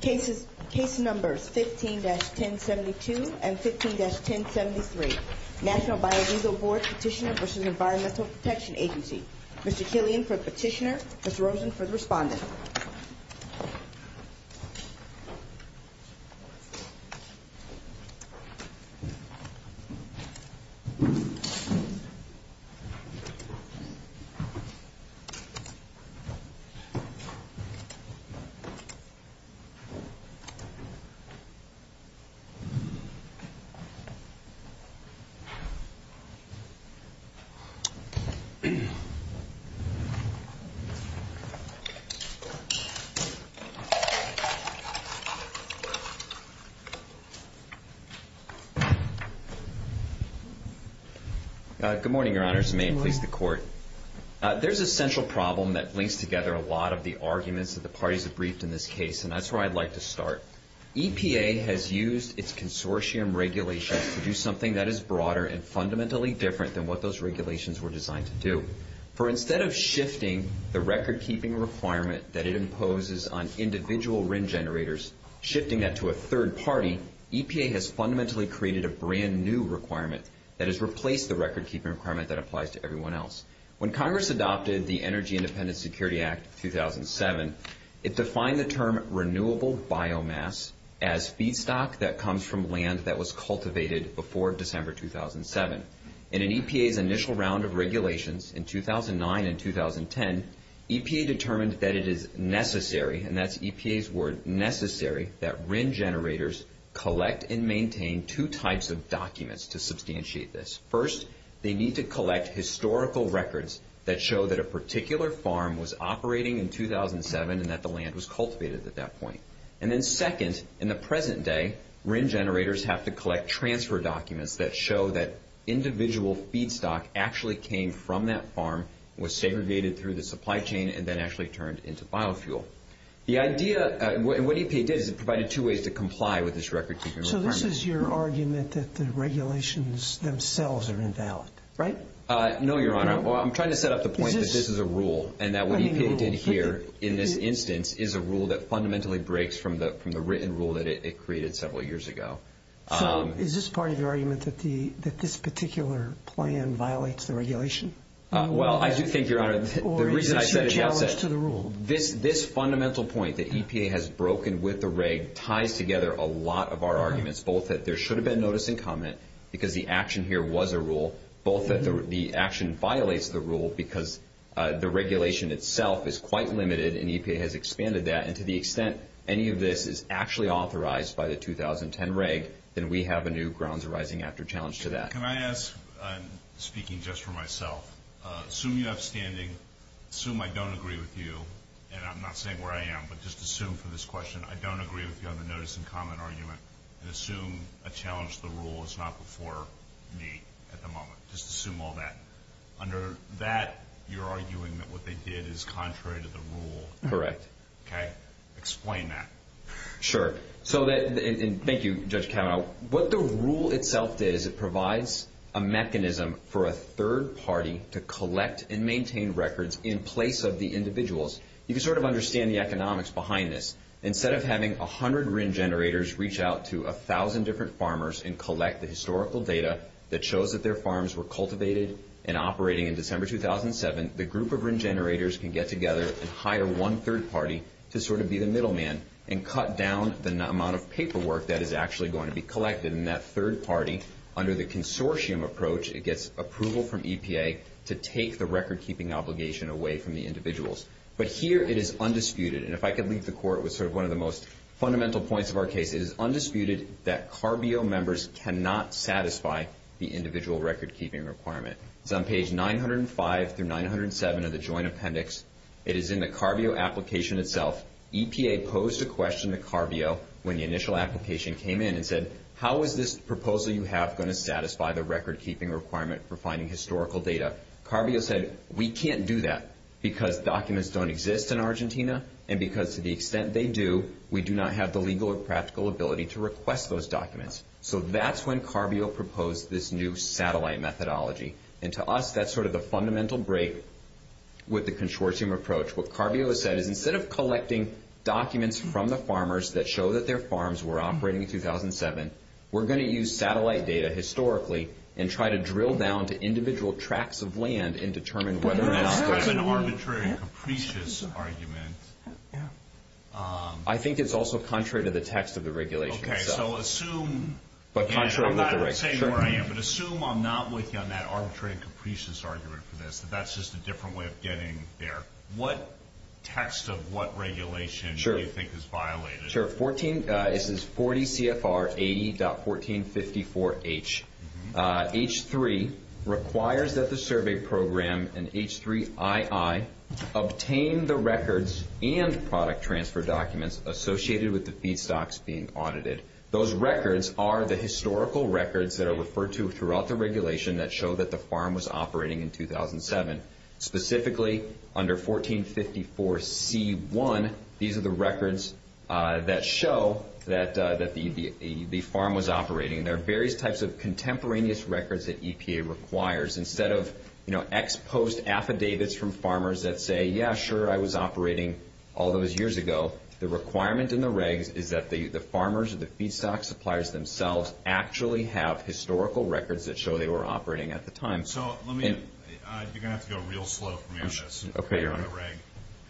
Case Numbers 15-1072 and 15-1073 National Biodiesel Board Petitioner v. Environmental Protection Agency Mr. Killian for the petitioner, Ms. Rosen for the respondent Good morning, your honors. May it please the court. There's a central problem that links together a lot of the arguments that the parties have briefed in this case, and that's where I'd like to start. EPA has used its consortium regulations to do something that is broader and fundamentally different than what those regulations were designed to do. For instead of shifting the record-keeping requirement that it imposes on individual RIN generators, shifting that to a third party, EPA has fundamentally created a brand new requirement that has replaced the record-keeping requirement that applies to everyone else. When Congress adopted the Energy Independence Security Act of 2007, it defined the term renewable biomass as feedstock that comes from land that was cultivated before December 2007. In an EPA's initial round of regulations in 2009 and 2010, EPA determined that it is necessary, and that's EPA's word, necessary, that RIN generators collect and maintain two types of documents to substantiate this. First, they need to collect historical records that show that a particular farm was operating in 2007 and that the land was cultivated at that point. And then second, in the present day, RIN generators have to collect transfer documents that show that individual feedstock actually came from that farm, was segregated through the supply chain, and then actually turned into biofuel. What EPA did is it provided two ways to comply with this record-keeping requirement. So this is your argument that the regulations themselves are invalid, right? No, Your Honor. I'm trying to set up the point that this is a rule and that what EPA did here in this instance is a rule that fundamentally breaks from the written rule that it created several years ago. So is this part of your argument that this particular plan violates the regulation? Well, I do think, Your Honor, the reason I said it at the outset, this fundamental point that EPA has broken with the reg ties together a lot of our arguments, both that there should have been notice and comment because the action here was a rule, both that the action violates the rule because the regulation itself is quite limited and EPA has expanded that, and to the extent any of this is actually authorized by the 2010 reg, then we have a new grounds arising after challenge to that. Can I ask, speaking just for myself, assume you have standing, assume I don't agree with you, and I'm not saying where I am, but just assume for this question, I don't agree with you on the notice and comment argument, and assume a challenge to the rule is not before me at the moment. Just assume all that. Under that, you're arguing that what they did is contrary to the rule. Correct. Okay? Explain that. Sure. Thank you, Judge Kavanaugh. What the rule itself does, it provides a mechanism for a third party to collect and maintain records in place of the individuals. You can sort of understand the economics behind this. Instead of having 100 RIN generators reach out to 1,000 different farmers and collect the historical data that shows that their farms were cultivated and operating in December 2007, the group of RIN generators can get together and hire one third party to sort of be the middleman and cut down the amount of paperwork that is actually going to be collected, and that third party, under the consortium approach, it gets approval from EPA to take the record-keeping obligation away from the individuals. But here it is undisputed, and if I could leave the Court with sort of one of the most fundamental points of our case, it is undisputed that CARBEO members cannot satisfy the individual record-keeping requirement. It's on page 905 through 907 of the Joint Appendix. It is in the CARBEO application itself. EPA posed a question to CARBEO when the initial application came in and said, how is this proposal you have going to satisfy the record-keeping requirement for finding historical data? CARBEO said, we can't do that because documents don't exist in Argentina, and because to the extent they do, we do not have the legal or practical ability to request those documents. So that's when CARBEO proposed this new satellite methodology. And to us, that's sort of the fundamental break with the consortium approach. What CARBEO has said is instead of collecting documents from the farmers that show that their farms were operating in 2007, we're going to use satellite data historically and try to drill down to individual tracts of land and determine whether or not there's an arbitrary and capricious argument. I think it's also contrary to the text of the regulation. Okay, so assume – I'm not saying where I am, but assume I'm not with you on that arbitrary and capricious argument for this, that that's just a different way of getting there. What text of what regulation do you think is violated? Sure. This is 40 CFR 80.1454H. H3 requires that the survey program and H3II obtain the records and product transfer documents associated with the feedstocks being audited. Those records are the historical records that are referred to throughout the regulation that show that the farm was operating in 2007. Specifically, under 1454C1, these are the records that show that the farm was operating. There are various types of contemporaneous records that EPA requires. Instead of ex post affidavits from farmers that say, yeah, sure, I was operating all those years ago, the requirement in the regs is that the farmers or the feedstock suppliers themselves actually have historical records that show they were operating at the time. You're going to have to go real slow for me on this. Okay, you're on.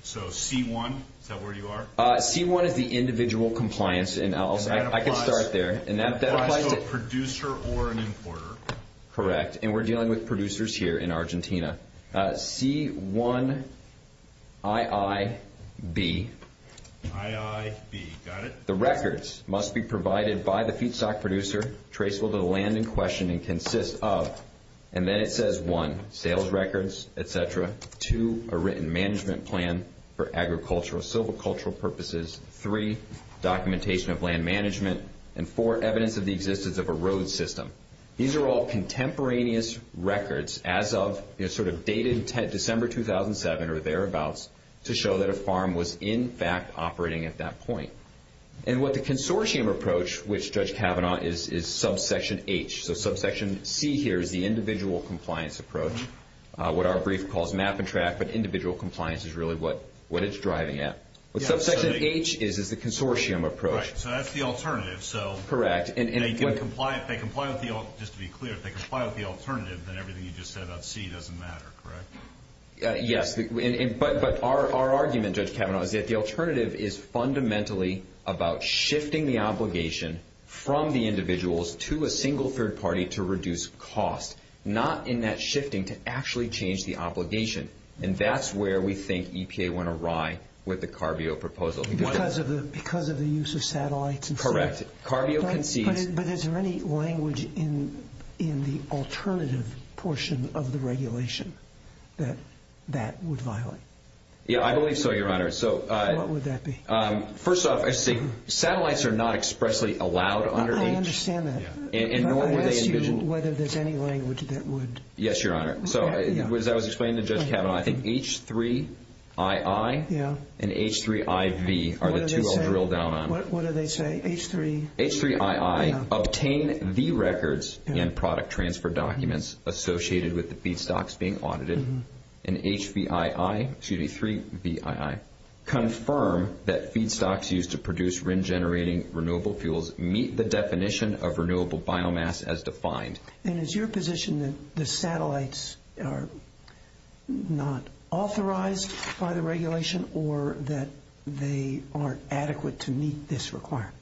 C1, is that where you are? C1 is the individual compliance. I can start there. That applies to a producer or an importer. Correct, and we're dealing with producers here in Argentina. C1IIB. IIB, got it. The records must be provided by the feedstock producer traceable to the land in question and consist of, and then it says one, sales records, et cetera, two, a written management plan for agricultural, silvicultural purposes, three, documentation of land management, and four, evidence of the existence of a road system. These are all contemporaneous records as of sort of dated December 2007 or thereabouts to show that a farm was, in fact, operating at that point. And what the consortium approach, which Judge Kavanaugh is subsection H, so subsection C here is the individual compliance approach, what our brief calls map and track, but individual compliance is really what it's driving at. What subsection H is is the consortium approach. Right, so that's the alternative. Correct. Just to be clear, if they comply with the alternative, then everything you just said about C doesn't matter, correct? Yes, but our argument, Judge Kavanaugh, is that the alternative is fundamentally about shifting the obligation from the individuals to a single third party to reduce cost, not in that shifting to actually change the obligation. And that's where we think EPA went awry with the CARBEO proposal. Because of the use of satellites? Correct. CARBEO concedes But is there any language in the alternative portion of the regulation that that would violate? Yeah, I believe so, Your Honor. What would that be? First off, satellites are not expressly allowed under H. I understand that. And nor were they envisioned But I ask you whether there's any language that would Yes, Your Honor. So as I was explaining to Judge Kavanaugh, I think H3II and H3IV are the two I'll drill down on. What do they say? H3? H3II, obtain the records and product transfer documents associated with the feedstocks being audited in H3VII. Confirm that feedstocks used to produce RIN-generating renewable fuels meet the definition of renewable biomass as defined. And is your position that the satellites are not authorized by the regulation or that they aren't adequate to meet this requirement?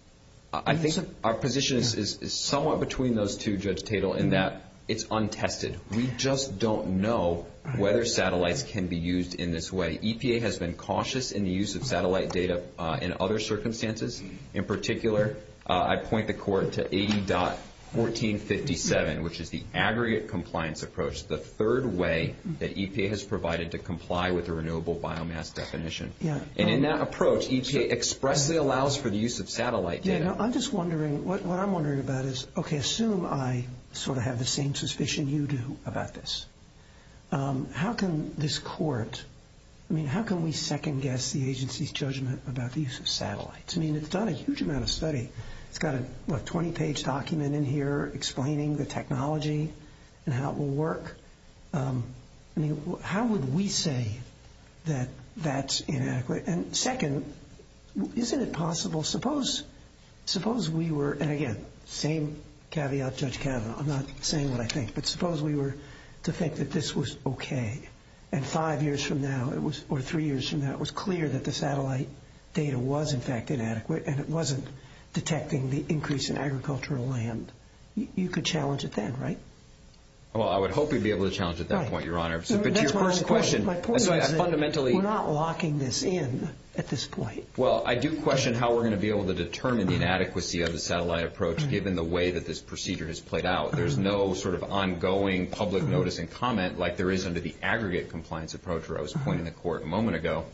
I think our position is somewhat between those two, Judge Tatel, in that it's untested. We just don't know whether satellites can be used in this way. EPA has been cautious in the use of satellite data in other circumstances. In particular, I point the court to 80.1457, which is the aggregate compliance approach, the third way that EPA has provided to comply with the renewable biomass definition. And in that approach, EPA expressly allows for the use of satellite data. I'm just wondering, what I'm wondering about is, okay, assume I sort of have the same suspicion you do about this. How can this court, I mean, how can we second guess the agency's judgment about the use of satellites? I mean, it's done a huge amount of study. It's got a 20-page document in here explaining the technology and how it will work. I mean, how would we say that that's inadequate? And second, isn't it possible, suppose we were, and again, same caveat, Judge Kavanaugh. I'm not saying what I think, but suppose we were to think that this was okay. And five years from now, or three years from now, it was clear that the satellite data was in fact inadequate and it wasn't detecting the increase in agricultural land. You could challenge it then, right? Well, I would hope we'd be able to challenge it at that point, Your Honor. But to your first question, fundamentally. We're not locking this in at this point. Well, I do question how we're going to be able to determine the inadequacy of the satellite approach, given the way that this procedure has played out. There's no sort of ongoing public notice and comment like there is under the aggregate compliance approach, or I was pointing to the Court a moment ago.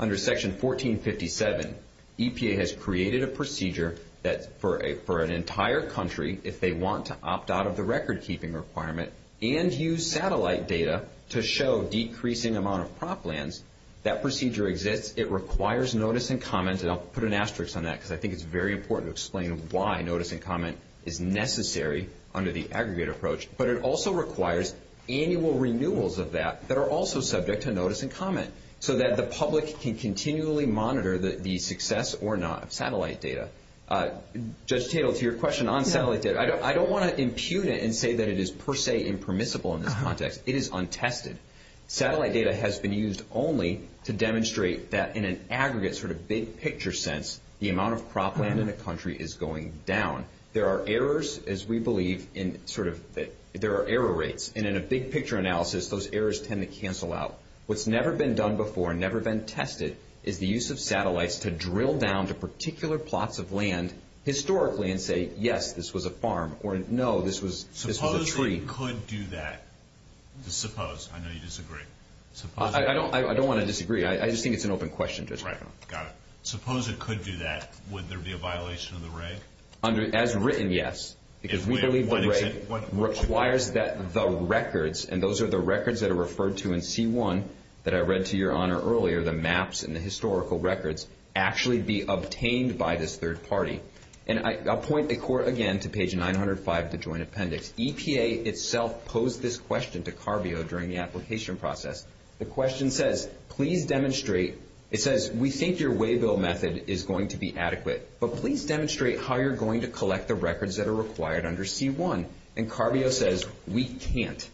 Under Section 1457, EPA has created a procedure that for an entire country, if they want to opt out of the record-keeping requirement and use satellite data to show decreasing amount of crop lands, that procedure exists. It requires notice and comment, and I'll put an asterisk on that because I think it's very important to explain why notice and comment is necessary under the aggregate approach, but it also requires annual renewals of that that are also subject to notice and comment so that the public can continually monitor the success or not of satellite data. Judge Tatel, to your question on satellite data, I don't want to impute it and say that it is per se impermissible in this context. It is untested. Satellite data has been used only to demonstrate that in an aggregate sort of big-picture sense, the amount of crop land in a country is going down. There are errors, as we believe, in sort of that there are error rates, and in a big-picture analysis, those errors tend to cancel out. What's never been done before, never been tested, is the use of satellites to drill down to particular plots of land historically and say, yes, this was a farm, or no, this was a tree. Suppose it could do that. Suppose. I know you disagree. I don't want to disagree. I just think it's an open question, Judge. Right. Got it. Suppose it could do that. Would there be a violation of the reg? As written, yes. Because we believe the reg requires that the records, and those are the records that are referred to in C1 that I read to your Honor earlier, the maps and the historical records, actually be obtained by this third party. And I'll point the Court again to page 905 of the Joint Appendix. EPA itself posed this question to CARBEO during the application process. The question says, please demonstrate. It says, we think your waybill method is going to be adequate, but please demonstrate how you're going to collect the records that are required under C1. And CARBEO says, we can't.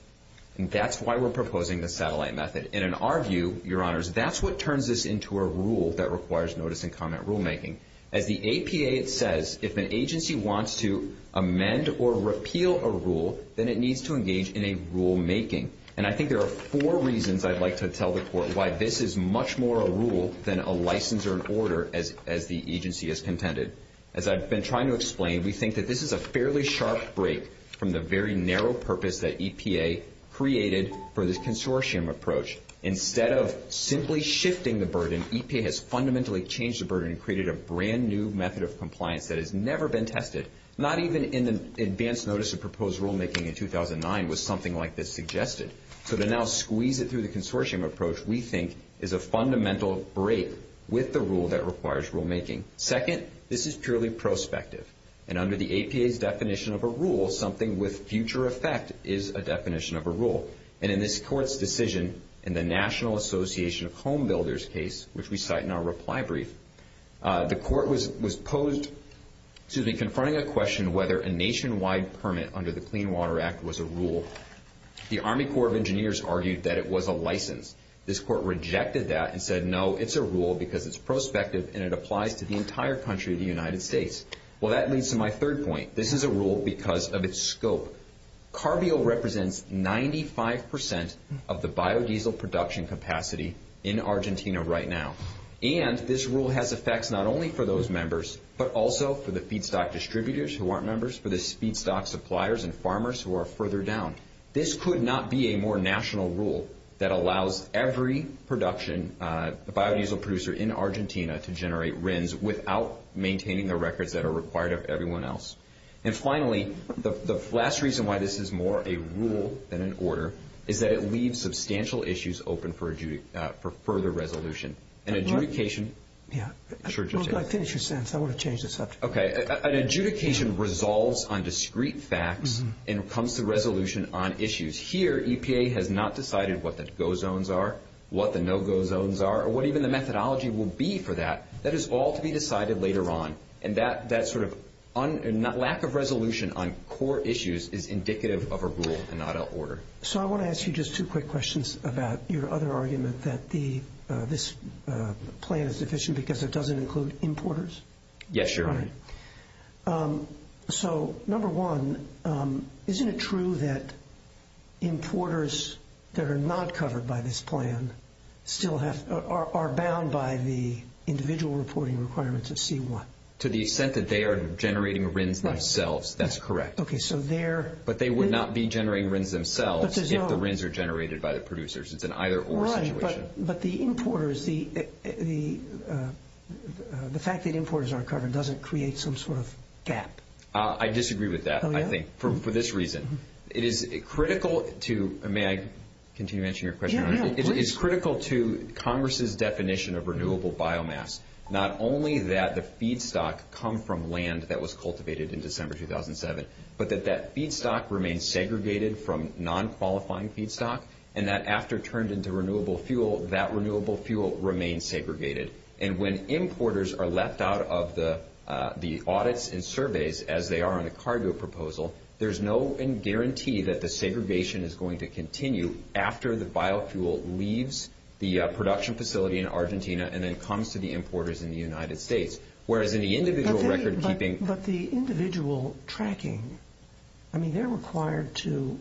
And that's why we're proposing the satellite method. And in our view, Your Honors, that's what turns this into a rule that requires notice and comment rulemaking. As the APA says, if an agency wants to amend or repeal a rule, then it needs to engage in a rulemaking. And I think there are four reasons I'd like to tell the Court why this is much more a rule than a license or an order as the agency has contended. As I've been trying to explain, we think that this is a fairly sharp break from the very narrow purpose that EPA created for this consortium approach. Instead of simply shifting the burden, EPA has fundamentally changed the burden and created a brand-new method of compliance that has never been tested. Not even in the advance notice of proposed rulemaking in 2009 was something like this suggested. So to now squeeze it through the consortium approach, we think, is a fundamental break with the rule that requires rulemaking. Second, this is purely prospective. And under the APA's definition of a rule, something with future effect is a definition of a rule. And in this Court's decision in the National Association of Homebuilders case, which we cite in our reply brief, the Court was posed, excuse me, confronting a question whether a nationwide permit under the Clean Water Act was a rule. The Army Corps of Engineers argued that it was a license. This Court rejected that and said, no, it's a rule because it's prospective and it applies to the entire country of the United States. Well, that leads to my third point. This is a rule because of its scope. Carbio represents 95% of the biodiesel production capacity in Argentina right now. And this rule has effects not only for those members, but also for the feedstock distributors who aren't members, for the feedstock suppliers and farmers who are further down. This could not be a more national rule that allows every production biodiesel producer in Argentina to generate RINs without maintaining the records that are required of everyone else. And finally, the last reason why this is more a rule than an order is that it leaves substantial issues open for further resolution. An adjudication. Yeah. I finished your sentence. I want to change the subject. Okay. An adjudication resolves on discrete facts and comes to resolution on issues. Here, EPA has not decided what the go zones are, what the no-go zones are, or what even the methodology will be for that. That is all to be decided later on. And that sort of lack of resolution on core issues is indicative of a rule and not an order. So I want to ask you just two quick questions about your other argument that this plan is deficient because it doesn't include importers? Yes, Your Honor. So, number one, isn't it true that importers that are not covered by this plan are bound by the individual reporting requirements of C-1? To the extent that they are generating RINs themselves. That's correct. Okay. But they would not be generating RINs themselves if the RINs are generated by the producers. It's an either-or situation. Right. But the fact that importers aren't covered doesn't create some sort of gap. I disagree with that, I think, for this reason. It is critical to – may I continue answering your question, Your Honor? Please. It's critical to Congress's definition of renewable biomass. Not only that the feedstock come from land that was cultivated in December 2007, but that that feedstock remains segregated from non-qualifying feedstock, and that after turned into renewable fuel, that renewable fuel remains segregated. And when importers are left out of the audits and surveys, as they are on a cargo proposal, there's no guarantee that the segregation is going to continue after the biofuel leaves the production facility in Argentina and then comes to the importers in the United States. Whereas in the individual record-keeping – But the individual tracking, I mean, they're required to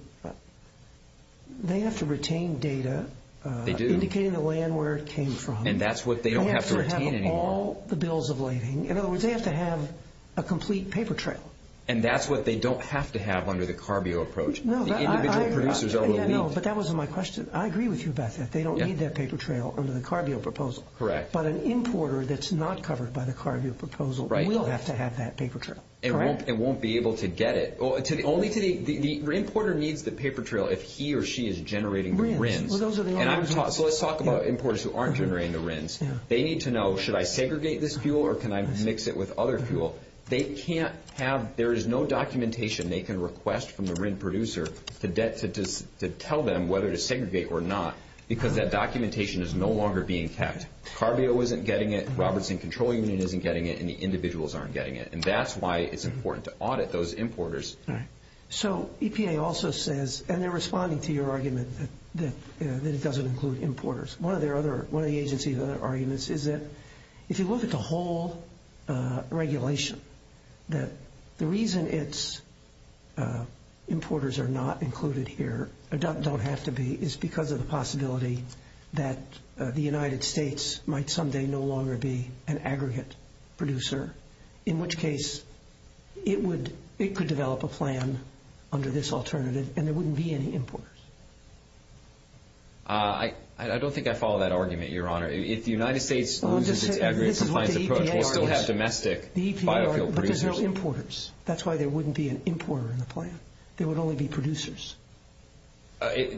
– they have to retain data. They do. Indicating the land where it came from. And that's what they don't have to retain anymore. They have to have all the bills of lading. In other words, they have to have a complete paper trail. And that's what they don't have to have under the CARB-EO approach. No, I agree. The individual producers are relieved. No, but that wasn't my question. I agree with you, Beth, that they don't need that paper trail under the CARB-EO proposal. Correct. But an importer that's not covered by the CARB-EO proposal will have to have that paper trail. Correct. It won't be able to get it. Only to the – the importer needs the paper trail if he or she is generating the RINs. Well, those are the only ones. So let's talk about importers who aren't generating the RINs. They need to know, should I segregate this fuel or can I mix it with other fuel? They can't have – there is no documentation they can request from the RIN producer to tell them whether to segregate or not because that documentation is no longer being kept. CARB-EO isn't getting it. Robertson Control Union isn't getting it. And the individuals aren't getting it. And that's why it's important to audit those importers. Right. So EPA also says – and they're responding to your argument that it doesn't include importers. One of their other – one of the agency's other arguments is that if you look at the whole regulation, that the reason its importers are not included here – don't have to be – is because of the possibility that the United States might someday no longer be an aggregate producer, in which case it would – it could develop a plan under this alternative and there wouldn't be any importers. I don't think I follow that argument, Your Honor. If the United States loses its aggregate compliance approach, we'll still have domestic biofuel producers. But there's no importers. That's why there wouldn't be an importer in the plan. There would only be producers.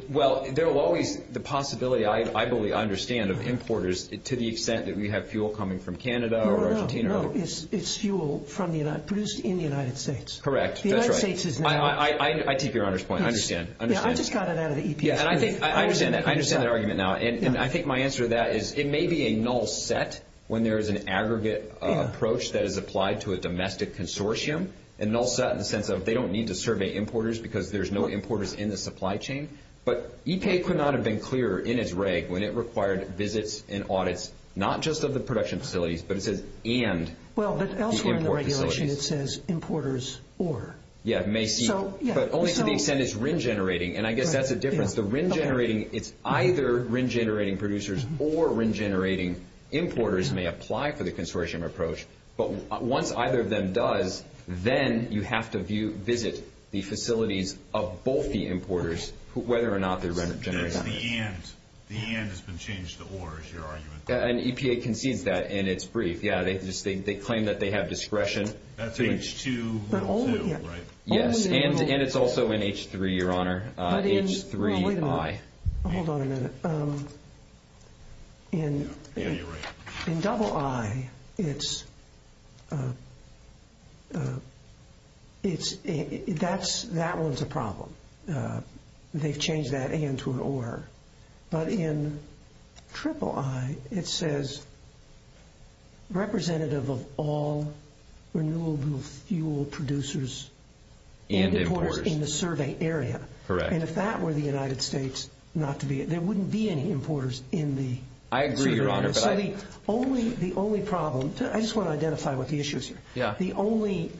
Well, there will always – the possibility, I believe, I understand, of importers, to the extent that we have fuel coming from Canada or Argentina. No, no, no. It's fuel produced in the United States. Correct. The United States is now – I take Your Honor's point. I understand. Yeah, I just got it out of the EPA. Yeah, and I think – I understand that. I understand that argument now. And I think my answer to that is it may be a null set when there is an aggregate approach that is applied to a domestic consortium, a null set in the sense of they don't need to survey importers because there's no importers in the supply chain. But EPA could not have been clearer in its reg when it required visits and audits, not just of the production facilities, but it says and the import facilities. Well, but elsewhere in the regulation it says importers or. Yeah, it may seem. But only to the extent it's RIN-generating, and I guess that's a difference. The RIN-generating, it's either RIN-generating producers or RIN-generating importers may apply for the consortium approach. But once either of them does, then you have to visit the facilities of both the importers, whether or not they're RIN-generating. That's the and. The and has been changed to or, is your argument. And EPA concedes that, and it's brief. Yeah, they claim that they have discretion. That's H2O2, right? Yes, and it's also in H3, Your Honor. H3I. Wait a minute. Hold on a minute. In double I, that one's a problem. They've changed that and to an or. But in triple I, it says representative of all renewable fuel producers and importers in the survey area. And if that were the United States, there wouldn't be any importers in the survey area. I agree, Your Honor. So the only problem, I just want to identify what the issue is here. The only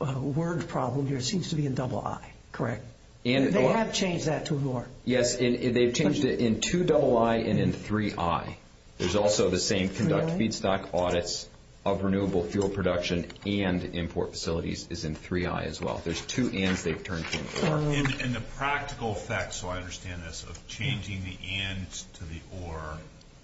word problem here seems to be in double I, correct? They have changed that to or. Yes, and they've changed it in two double I and in three I. There's also the same conduct feedstock audits of renewable fuel production and import facilities is in three I as well. There's two ands they've turned to an or. And the practical effect, so I understand this, of changing the ands to the or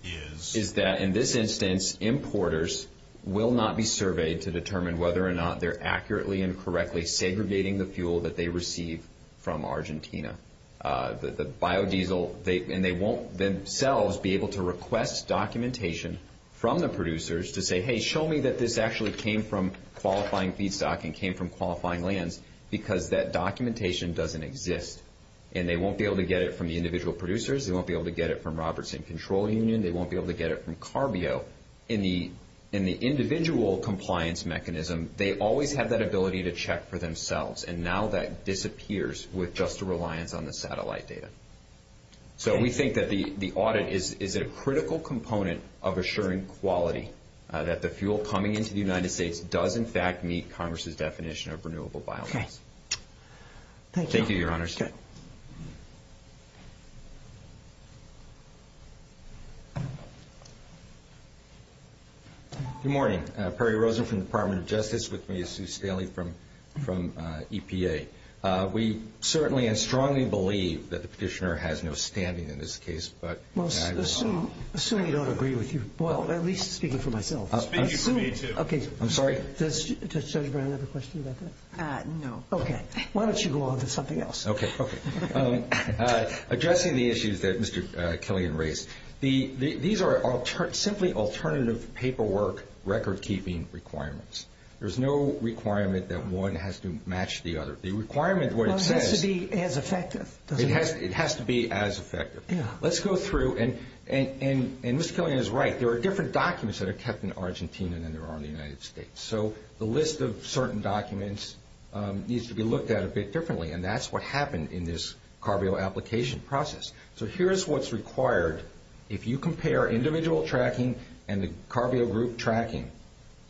is? Is that in this instance, importers will not be surveyed to determine whether or not they're accurately and correctly segregating the fuel that they receive from Argentina. The biodiesel, and they won't themselves be able to request documentation from the producers to say, hey, show me that this actually came from qualifying feedstock and came from qualifying lands, because that documentation doesn't exist. And they won't be able to get it from the individual producers. They won't be able to get it from Robertson Control Union. They won't be able to get it from Carbio. So in the individual compliance mechanism, they always have that ability to check for themselves, and now that disappears with just a reliance on the satellite data. So we think that the audit is a critical component of assuring quality, that the fuel coming into the United States does in fact meet Congress's definition of renewable biodiesel. Okay. Thank you. Thank you, Your Honors. Okay. Good morning. Perry Rosen from the Department of Justice. With me is Sue Staley from EPA. We certainly and strongly believe that the petitioner has no standing in this case. Well, assuming you don't agree with you, well, at least speaking for myself. Speaking for me, too. I'm sorry? Does Judge Brown have a question about that? No. Okay. Why don't you go on to something else? Okay. Okay. Addressing the issues that Mr. Killian raised, these are simply alternative paperwork record-keeping requirements. There's no requirement that one has to match the other. The requirement, what it says- Well, it has to be as effective. It has to be as effective. Yeah. Let's go through, and Mr. Killian is right. There are different documents that are kept in Argentina than there are in the United States. So the list of certain documents needs to be looked at a bit differently, and that's what happened in this CARB-O application process. So here's what's required. If you compare individual tracking and the CARB-O group tracking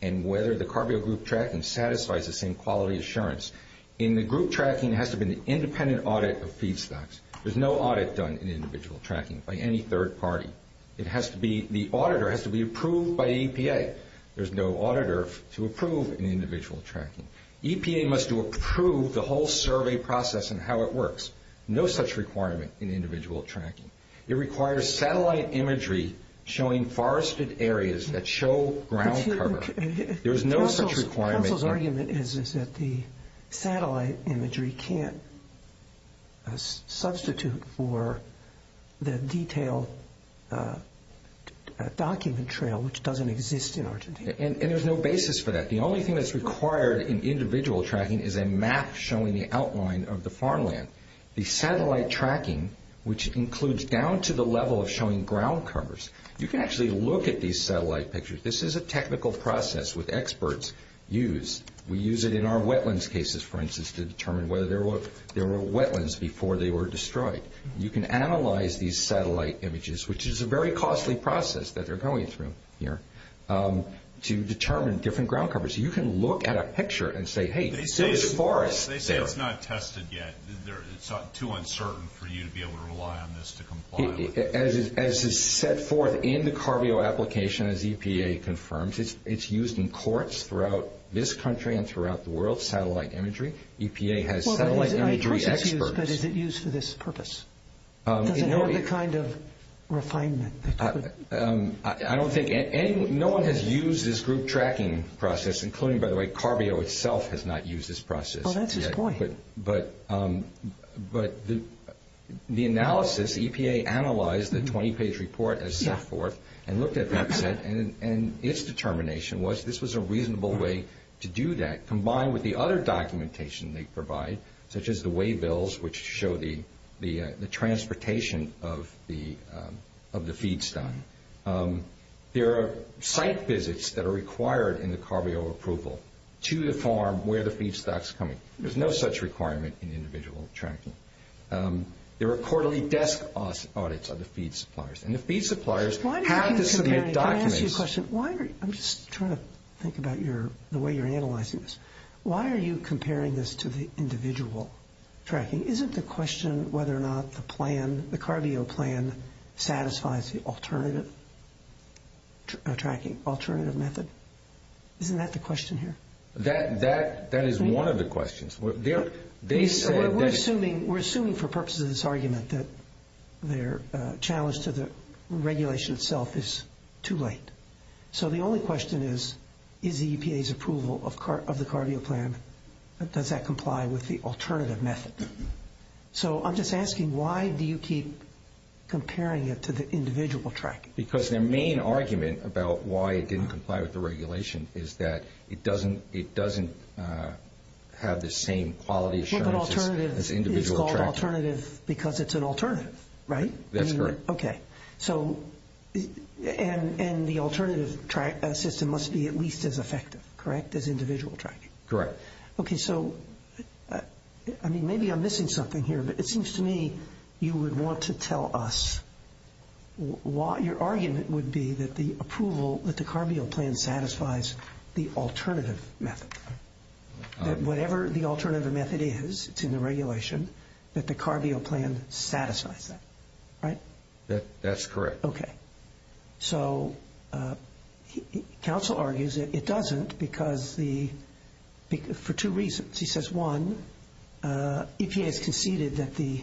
and whether the CARB-O group tracking satisfies the same quality assurance, in the group tracking it has to be an independent audit of feedstocks. There's no audit done in individual tracking by any third party. The auditor has to be approved by the EPA. There's no auditor to approve an individual tracking. EPA must approve the whole survey process and how it works. No such requirement in individual tracking. It requires satellite imagery showing forested areas that show ground cover. There's no such requirement. The council's argument is that the satellite imagery can't substitute for the detailed document trail, which doesn't exist in Argentina. And there's no basis for that. The only thing that's required in individual tracking is a map showing the outline of the farmland. The satellite tracking, which includes down to the level of showing ground covers, you can actually look at these satellite pictures. This is a technical process with experts used. We use it in our wetlands cases, for instance, to determine whether there were wetlands before they were destroyed. You can analyze these satellite images, which is a very costly process that they're going through here, to determine different ground covers. You can look at a picture and say, hey, this is forest. They say it's not tested yet. It's too uncertain for you to be able to rely on this to comply with it. As is set forth in the CARBEO application, as EPA confirms, it's used in courts throughout this country and throughout the world, satellite imagery. EPA has satellite imagery experts. I trust it's used, but is it used for this purpose? Does it have the kind of refinement? I don't think anyone has used this group tracking process, including, by the way, CARBEO itself has not used this process. Well, that's his point. But the analysis, EPA analyzed the 20-page report as set forth and looked at that set, and its determination was this was a reasonable way to do that, combined with the other documentation they provide, such as the waybills, which show the transportation of the feedstock. There are site visits that are required in the CARBEO approval to the farm where the feedstock's coming. There's no such requirement in individual tracking. There are quarterly desk audits of the feed suppliers, and the feed suppliers have to submit documents. Let me ask you a question. I'm just trying to think about the way you're analyzing this. Why are you comparing this to the individual tracking? Isn't the question whether or not the plan, the CARBEO plan, satisfies the alternative tracking, alternative method? Isn't that the question here? That is one of the questions. We're assuming for purposes of this argument that their challenge to the regulation itself is too late. So the only question is, is the EPA's approval of the CARBEO plan, does that comply with the alternative method? So I'm just asking, why do you keep comparing it to the individual tracking? Because their main argument about why it didn't comply with the regulation is that it doesn't have the same quality assurance as individual tracking. It's called alternative because it's an alternative, right? That's correct. Okay. And the alternative system must be at least as effective, correct, as individual tracking? Correct. Okay, so maybe I'm missing something here, but it seems to me you would want to tell us, your argument would be that the approval, that the CARBEO plan satisfies the alternative method. Whatever the alternative method is, it's in the regulation, that the CARBEO plan satisfies that, right? That's correct. Okay. So counsel argues that it doesn't for two reasons. He says, one, EPA has conceded that the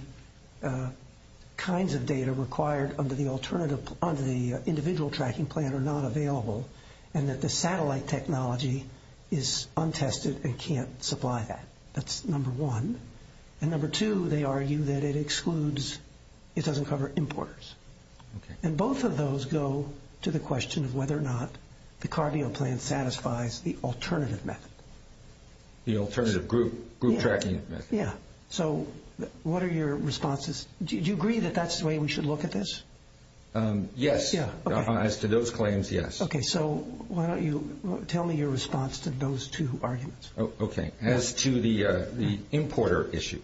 kinds of data required under the individual tracking plan are not available and that the satellite technology is untested and can't supply that. That's number one. And number two, they argue that it excludes, it doesn't cover importers. Okay. And both of those go to the question of whether or not the CARBEO plan satisfies the alternative method. The alternative group tracking method. Yeah. So what are your responses? Do you agree that that's the way we should look at this? Yes. Yeah, okay. As to those claims, yes. Okay, so why don't you tell me your response to those two arguments. Okay. As to the importer issue,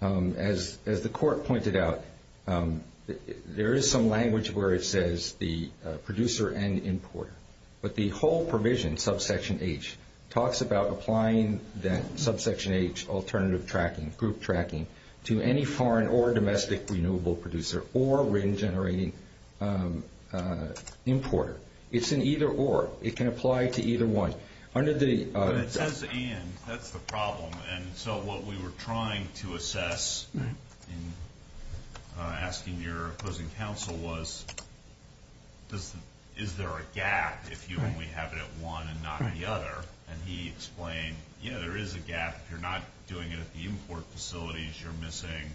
as the court pointed out, there is some language where it says the producer and importer. But the whole provision, subsection H, talks about applying that subsection H, alternative tracking, group tracking, to any foreign or domestic renewable producer or wind generating importer. It's an either or. It can apply to either one. It says and. That's the problem. And so what we were trying to assess in asking your opposing counsel was, is there a gap if you only have it at one and not the other? And he explained, yeah, there is a gap. If you're not doing it at the import facilities, you're missing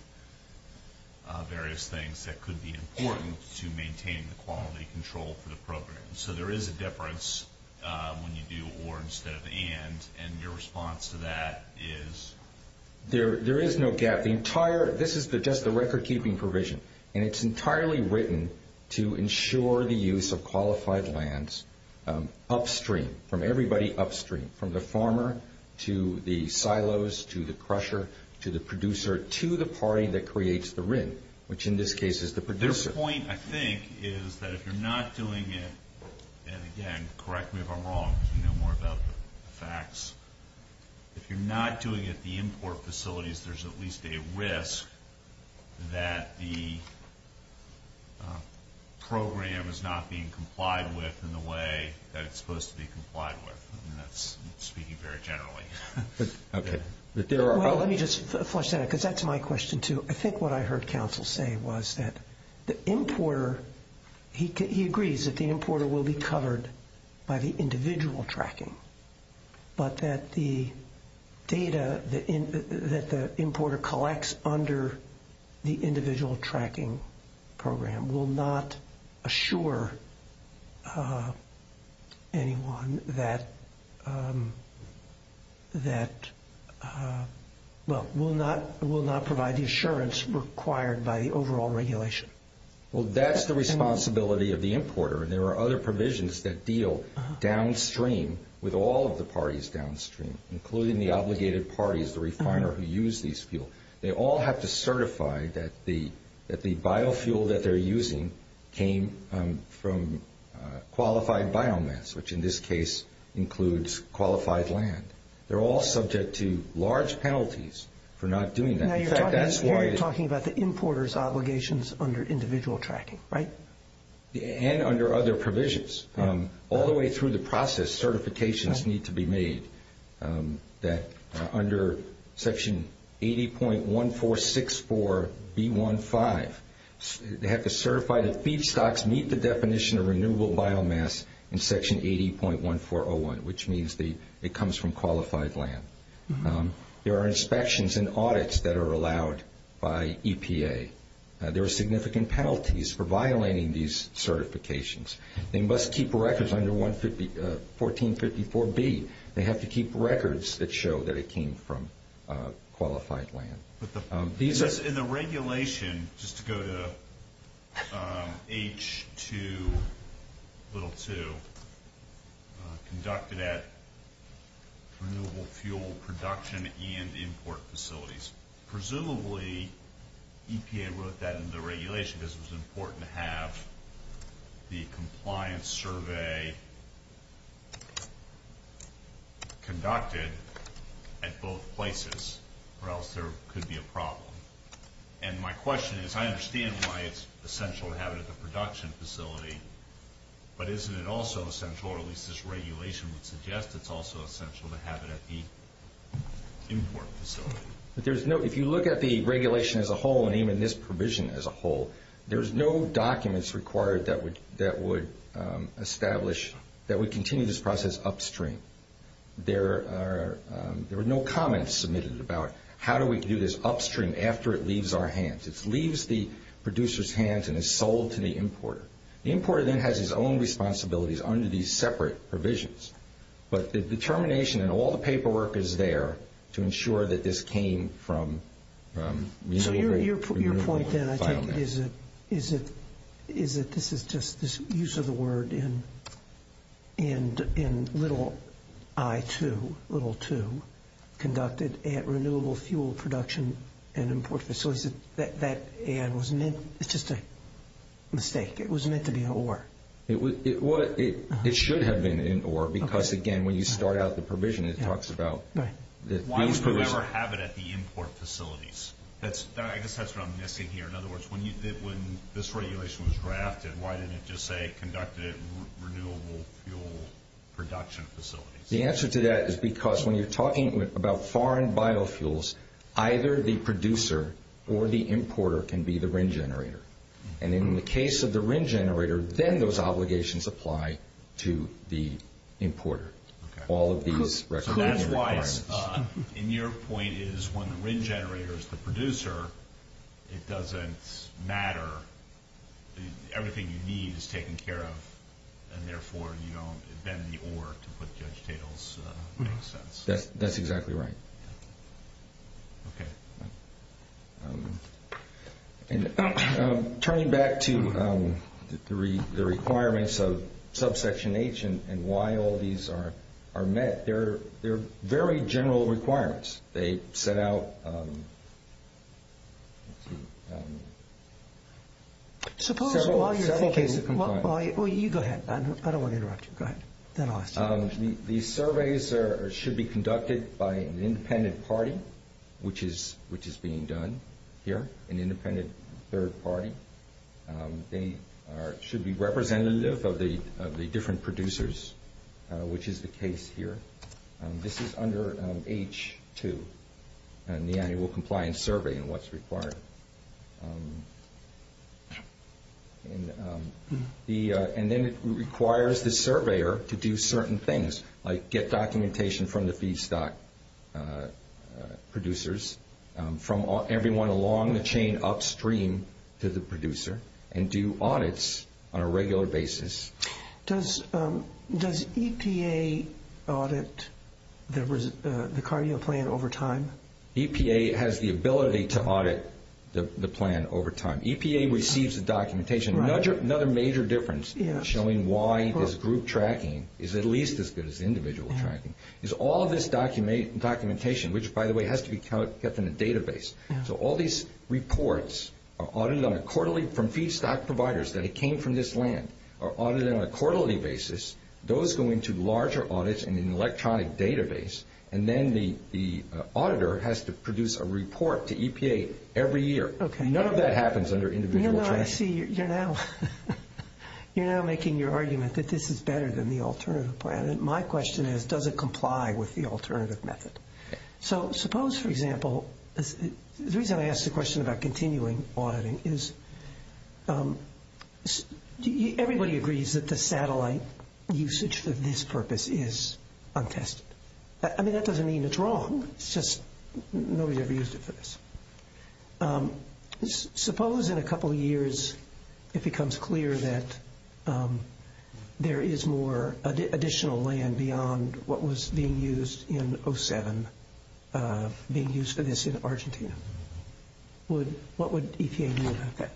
various things that could be important to maintain the quality control for the program. So there is a difference when you do or instead of and. And your response to that is? There is no gap. This is just the recordkeeping provision. And it's entirely written to ensure the use of qualified lands upstream, from everybody upstream, from the farmer to the silos to the crusher to the producer to the party that creates the RIN, which in this case is the producer. The point, I think, is that if you're not doing it, and again, correct me if I'm wrong. You know more about the facts. If you're not doing it at the import facilities, there's at least a risk that the program is not being complied with in the way that it's supposed to be complied with. And that's speaking very generally. Okay. Let me just flush that out because that's my question, too. I think what I heard counsel say was that the importer, he agrees that the importer will be covered by the individual tracking, but that the data that the importer collects under the individual tracking program will not assure anyone that, well, will not provide the assurance required by the overall regulation. Well, that's the responsibility of the importer. There are other provisions that deal downstream with all of the parties downstream, including the obligated parties, the refiner who use these fuel. They all have to certify that the biofuel that they're using came from qualified biomass, which in this case includes qualified land. They're all subject to large penalties for not doing that. Now, you're talking about the importer's obligations under individual tracking, right? And under other provisions. All the way through the process, certifications need to be made that under Section 80.1464B15, they have to certify that feedstocks meet the definition of renewable biomass in Section 80.1401, which means it comes from qualified land. There are inspections and audits that are allowed by EPA. There are significant penalties for violating these certifications. They must keep records under 1454B. They have to keep records that show that it came from qualified land. In the regulation, just to go to H2.2, conducted at renewable fuel production and import facilities, presumably EPA wrote that in the regulation because it was important to have the compliance survey conducted at both places, or else there could be a problem. And my question is, I understand why it's essential to have it at the production facility, but isn't it also essential, or at least this regulation would suggest it's also essential to have it at the import facility? If you look at the regulation as a whole, and even this provision as a whole, there's no documents required that would continue this process upstream. There were no comments submitted about how do we do this upstream after it leaves our hands. It leaves the producer's hands and is sold to the importer. The importer then has his own responsibilities under these separate provisions. But the determination in all the paperwork is there to ensure that this came from renewable biomass. Again, I think this is just this use of the word in little I2, little 2, conducted at renewable fuel production and import facility. So is it that it was meant, it's just a mistake. It was meant to be in ore. It should have been in ore because, again, when you start out the provision, it talks about... Why would you ever have it at the import facilities? I guess that's what I'm missing here. In other words, when this regulation was drafted, why didn't it just say conducted at renewable fuel production facilities? The answer to that is because when you're talking about foreign biofuels, either the producer or the importer can be the RIN generator. And in the case of the RIN generator, then those obligations apply to the importer. So that's why, in your point, is when the RIN generator is the producer, it doesn't matter. Everything you need is taken care of. And therefore, you don't invent the ore to put Judge Tatel's... That's exactly right. Okay. And turning back to the requirements of subsection H and why all these are met, they're very general requirements. They set out... Suppose... Several cases... Well, you go ahead. I don't want to interrupt you. Go ahead. Then I'll ask you. The surveys should be conducted by an independent party, which is being done here, an independent third party. They should be representative of the different producers, which is the case here. This is under H2, the annual compliance survey and what's required. And then it requires the surveyor to do certain things, like get documentation from the feedstock producers, from everyone along the chain upstream to the producer, and do audits on a regular basis. Does EPA audit the cardio plan over time? EPA has the ability to audit the plan over time. EPA receives the documentation. Another major difference in showing why this group tracking is at least as good as individual tracking is all this documentation, which, by the way, has to be kept in a database. So all these reports are audited on a quarterly... from feedstock providers that came from this land are audited on a quarterly basis. Those go into larger audits in an electronic database. And then the auditor has to produce a report to EPA every year. None of that happens under individual tracking. No, no, I see. You're now making your argument that this is better than the alternative plan. And my question is, does it comply with the alternative method? So suppose, for example, the reason I ask the question about continuing auditing is everybody agrees that the satellite usage for this purpose is untested. I mean, that doesn't mean it's wrong. It's just nobody ever used it for this. Suppose in a couple of years it becomes clear that there is more additional land beyond what was being used in 07, being used for this in Argentina. What would EPA do about that?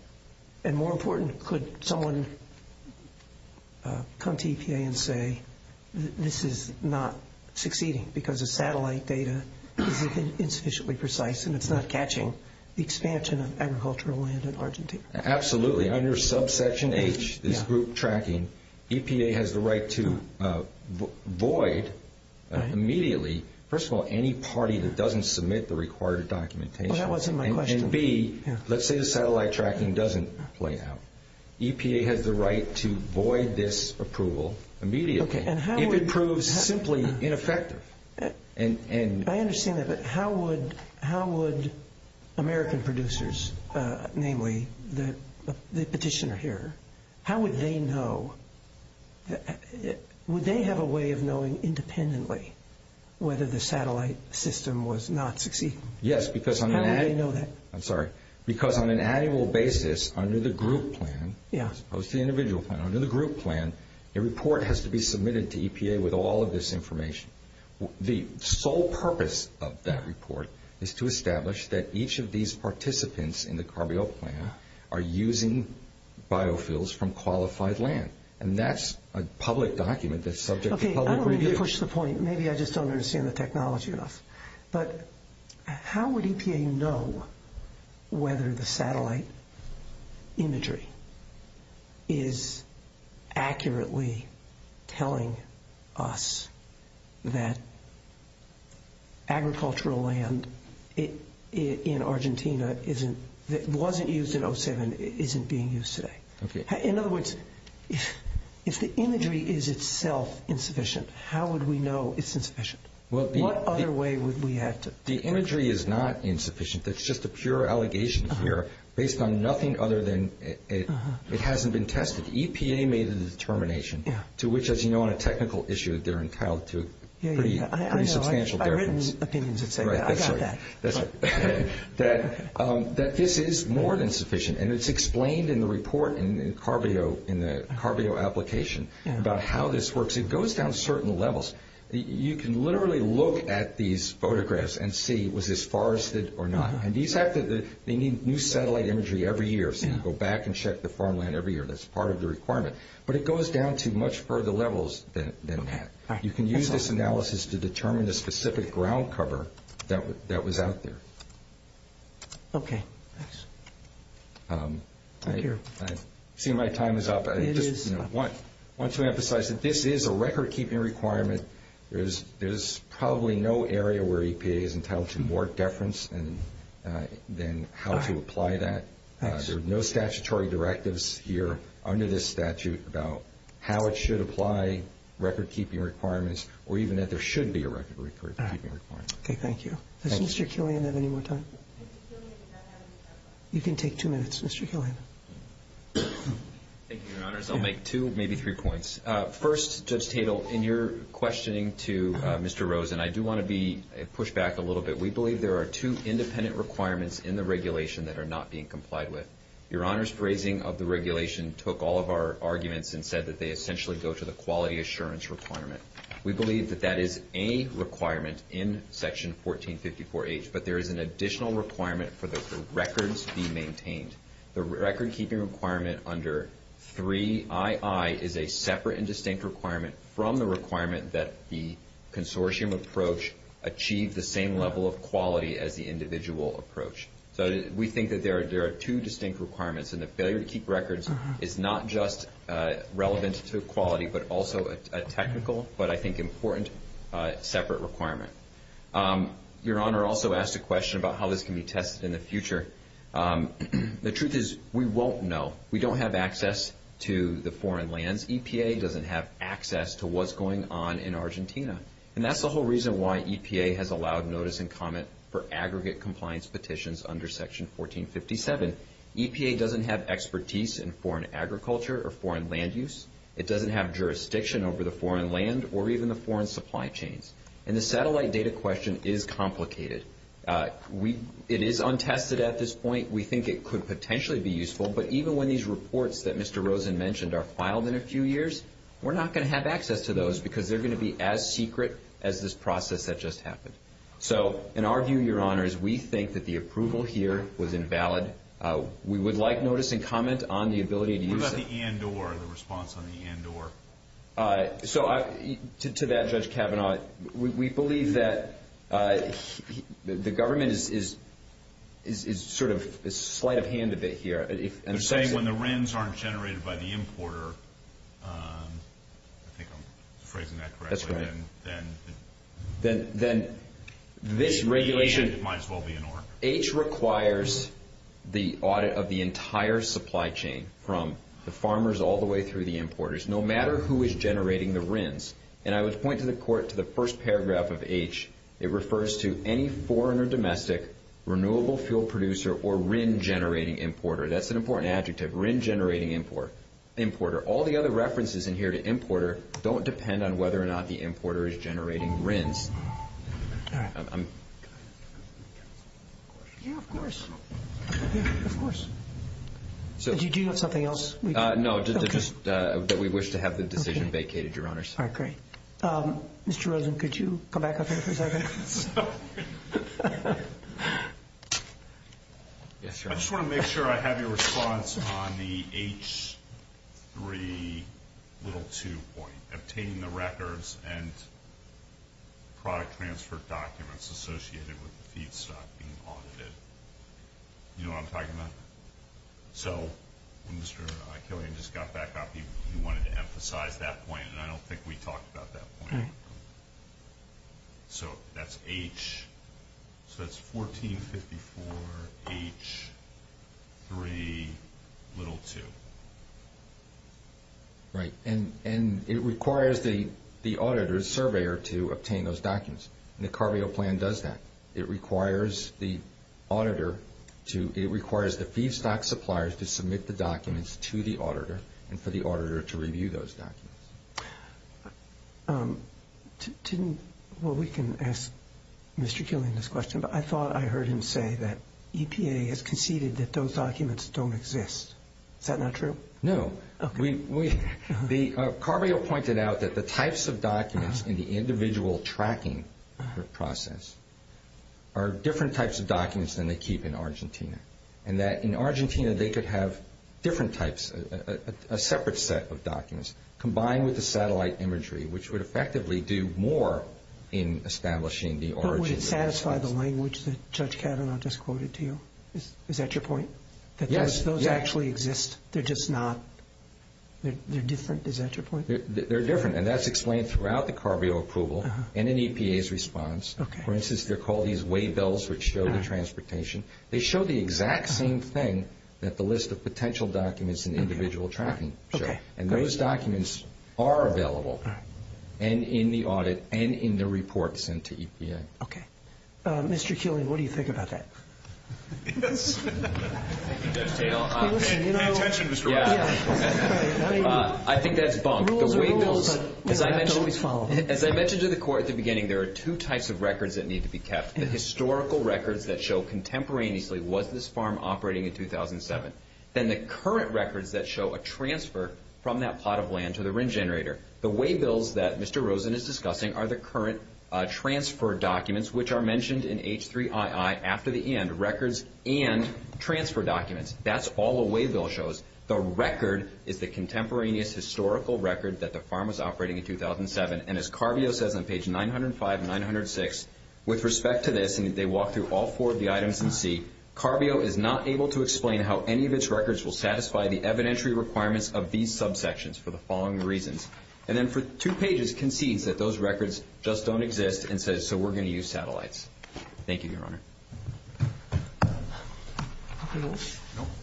And more important, could someone come to EPA and say, this is not succeeding because the satellite data is insufficiently precise and it's not catching the expansion of agricultural land in Argentina? Absolutely. Under subsection H, this group tracking, EPA has the right to void immediately, first of all, any party that doesn't submit the required documentation. That wasn't my question. And B, let's say the satellite tracking doesn't play out. EPA has the right to void this approval immediately if it proves simply ineffective. I understand that, but how would American producers, namely the petitioner here, how would they know? Would they have a way of knowing independently whether the satellite system was not succeeding? Yes. How would they know that? I'm sorry. Because on an annual basis, under the group plan, as opposed to the individual plan, under the group plan, a report has to be submitted to EPA with all of this information. The sole purpose of that report is to establish that each of these participants in the CARBEO plan are using biofuels from qualified land, and that's a public document that's subject to public review. Okay, I don't really push the point. Maybe I just don't understand the technology enough. But how would EPA know whether the satellite imagery is accurately telling us that agricultural land in Argentina that wasn't used in 2007 isn't being used today? Okay. In other words, if the imagery is itself insufficient, how would we know it's insufficient? What other way would we have to? The imagery is not insufficient. That's just a pure allegation here based on nothing other than it hasn't been tested. EPA made the determination, to which, as you know, on a technical issue, they're entitled to a pretty substantial difference. I've written opinions that say that. I got that. That this is more than sufficient, and it's explained in the report in the CARBEO application about how this works. It goes down certain levels. You can literally look at these photographs and see, was this forested or not? And they need new satellite imagery every year. So you go back and check the farmland every year. That's part of the requirement. But it goes down to much further levels than that. You can use this analysis to determine the specific ground cover that was out there. Okay. Thanks. Thank you. I see my time is up. I want to emphasize that this is a record-keeping requirement. There's probably no area where EPA is entitled to more deference than how to apply that. There are no statutory directives here under this statute about how it should apply, record-keeping requirements, or even that there should be a record-keeping requirement. Okay, thank you. Does Mr. Killian have any more time? You can take two minutes, Mr. Killian. Thank you, Your Honors. I'll make two, maybe three points. First, Judge Tatel, in your questioning to Mr. Rosen, I do want to push back a little bit. We believe there are two independent requirements in the regulation that are not being complied with. Your Honor's phrasing of the regulation took all of our arguments and said that they essentially go to the quality assurance requirement. We believe that that is a requirement in Section 1454H, but there is an additional requirement for the records be maintained. The record-keeping requirement under 3II is a separate and distinct requirement from the requirement that the consortium approach achieve the same level of quality as the individual approach. So we think that there are two distinct requirements, and the failure to keep records is not just relevant to quality, but also a technical, but I think important, separate requirement. Your Honor also asked a question about how this can be tested in the future. The truth is we won't know. We don't have access to the foreign lands. EPA doesn't have access to what's going on in Argentina. And that's the whole reason why EPA has allowed notice and comment for aggregate compliance petitions under Section 1457. EPA doesn't have expertise in foreign agriculture or foreign land use. It doesn't have jurisdiction over the foreign land or even the foreign supply chains. And the satellite data question is complicated. It is untested at this point. We think it could potentially be useful, but even when these reports that Mr. Rosen mentioned are filed in a few years, we're not going to have access to those because they're going to be as secret as this process that just happened. So in our view, Your Honors, we think that the approval here was invalid. We would like notice and comment on the ability to use it. What about the and-or, the response on the and-or? So to that, Judge Kavanaugh, we believe that the government is sort of slight of hand a bit here. They're saying when the RINs aren't generated by the importer, I think I'm phrasing that correctly. That's right. Then this regulation might as well be an or. H requires the audit of the entire supply chain from the farmers all the way through the importers, no matter who is generating the RINs. And I would point to the court to the first paragraph of H. It refers to any foreign or domestic renewable fuel producer or RIN-generating importer. That's an important adjective, RIN-generating importer. All the other references in here to importer don't depend on whether or not the importer is generating RINs. All right. Yeah, of course. Yeah, of course. Did you do something else? No, just that we wish to have the decision vacated, Your Honors. All right, great. Mr. Rosen, could you come back up here for a second? I just want to make sure I have your response on the H3 little 2 point, obtaining the records and product transfer documents associated with the feedstock being audited. You know what I'm talking about? So when Mr. Eichelian just got back up, he wanted to emphasize that point, and I don't think we talked about that point. So that's H. So that's 1454 H3 little 2. Right, and it requires the auditor, the surveyor, to obtain those documents. And the CARB-EO plan does that. It requires the auditor to – it requires the feedstock suppliers to submit the documents to the auditor and for the auditor to review those documents. Didn't – well, we can ask Mr. Eichelian this question, but I thought I heard him say that EPA has conceded that those documents don't exist. Is that not true? No. CARB-EO pointed out that the types of documents in the individual tracking process are different types of documents than they keep in Argentina, and that in Argentina they could have different types, a separate set of documents, combined with the satellite imagery, which would effectively do more in establishing the origin. But would it satisfy the language that Judge Kavanaugh just quoted to you? Is that your point? Yes. Yes, those actually exist. They're just not – they're different. Is that your point? They're different, and that's explained throughout the CARB-EO approval and in EPA's response. For instance, they're called these waybills, which show the transportation. They show the exact same thing that the list of potential documents in the individual tracking show. And those documents are available, and in the audit, and in the report sent to EPA. Okay. Mr. Eichelian, what do you think about that? Yes. The intention was correct. I think that's bunk. The waybills, as I mentioned to the Court at the beginning, there are two types of records that need to be kept, the historical records that show contemporaneously was this farm operating in 2007, and the current records that show a transfer from that plot of land to the RIN generator. The waybills that Mr. Rosen is discussing are the current transfer documents, which are mentioned in H3II after the end, records and transfer documents. That's all the waybill shows. The record is the contemporaneous historical record that the farm was operating in 2007. And as CARB-EO says on page 905 and 906, with respect to this, and they walk through all four of the items in C, CARB-EO is not able to explain how any of its records will satisfy the evidentiary requirements of these subsections for the following reasons. And then for two pages concedes that those records just don't exist and says, so we're going to use satellites. Thank you, Your Honor.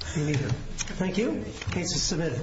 Thank you. Case is submitted.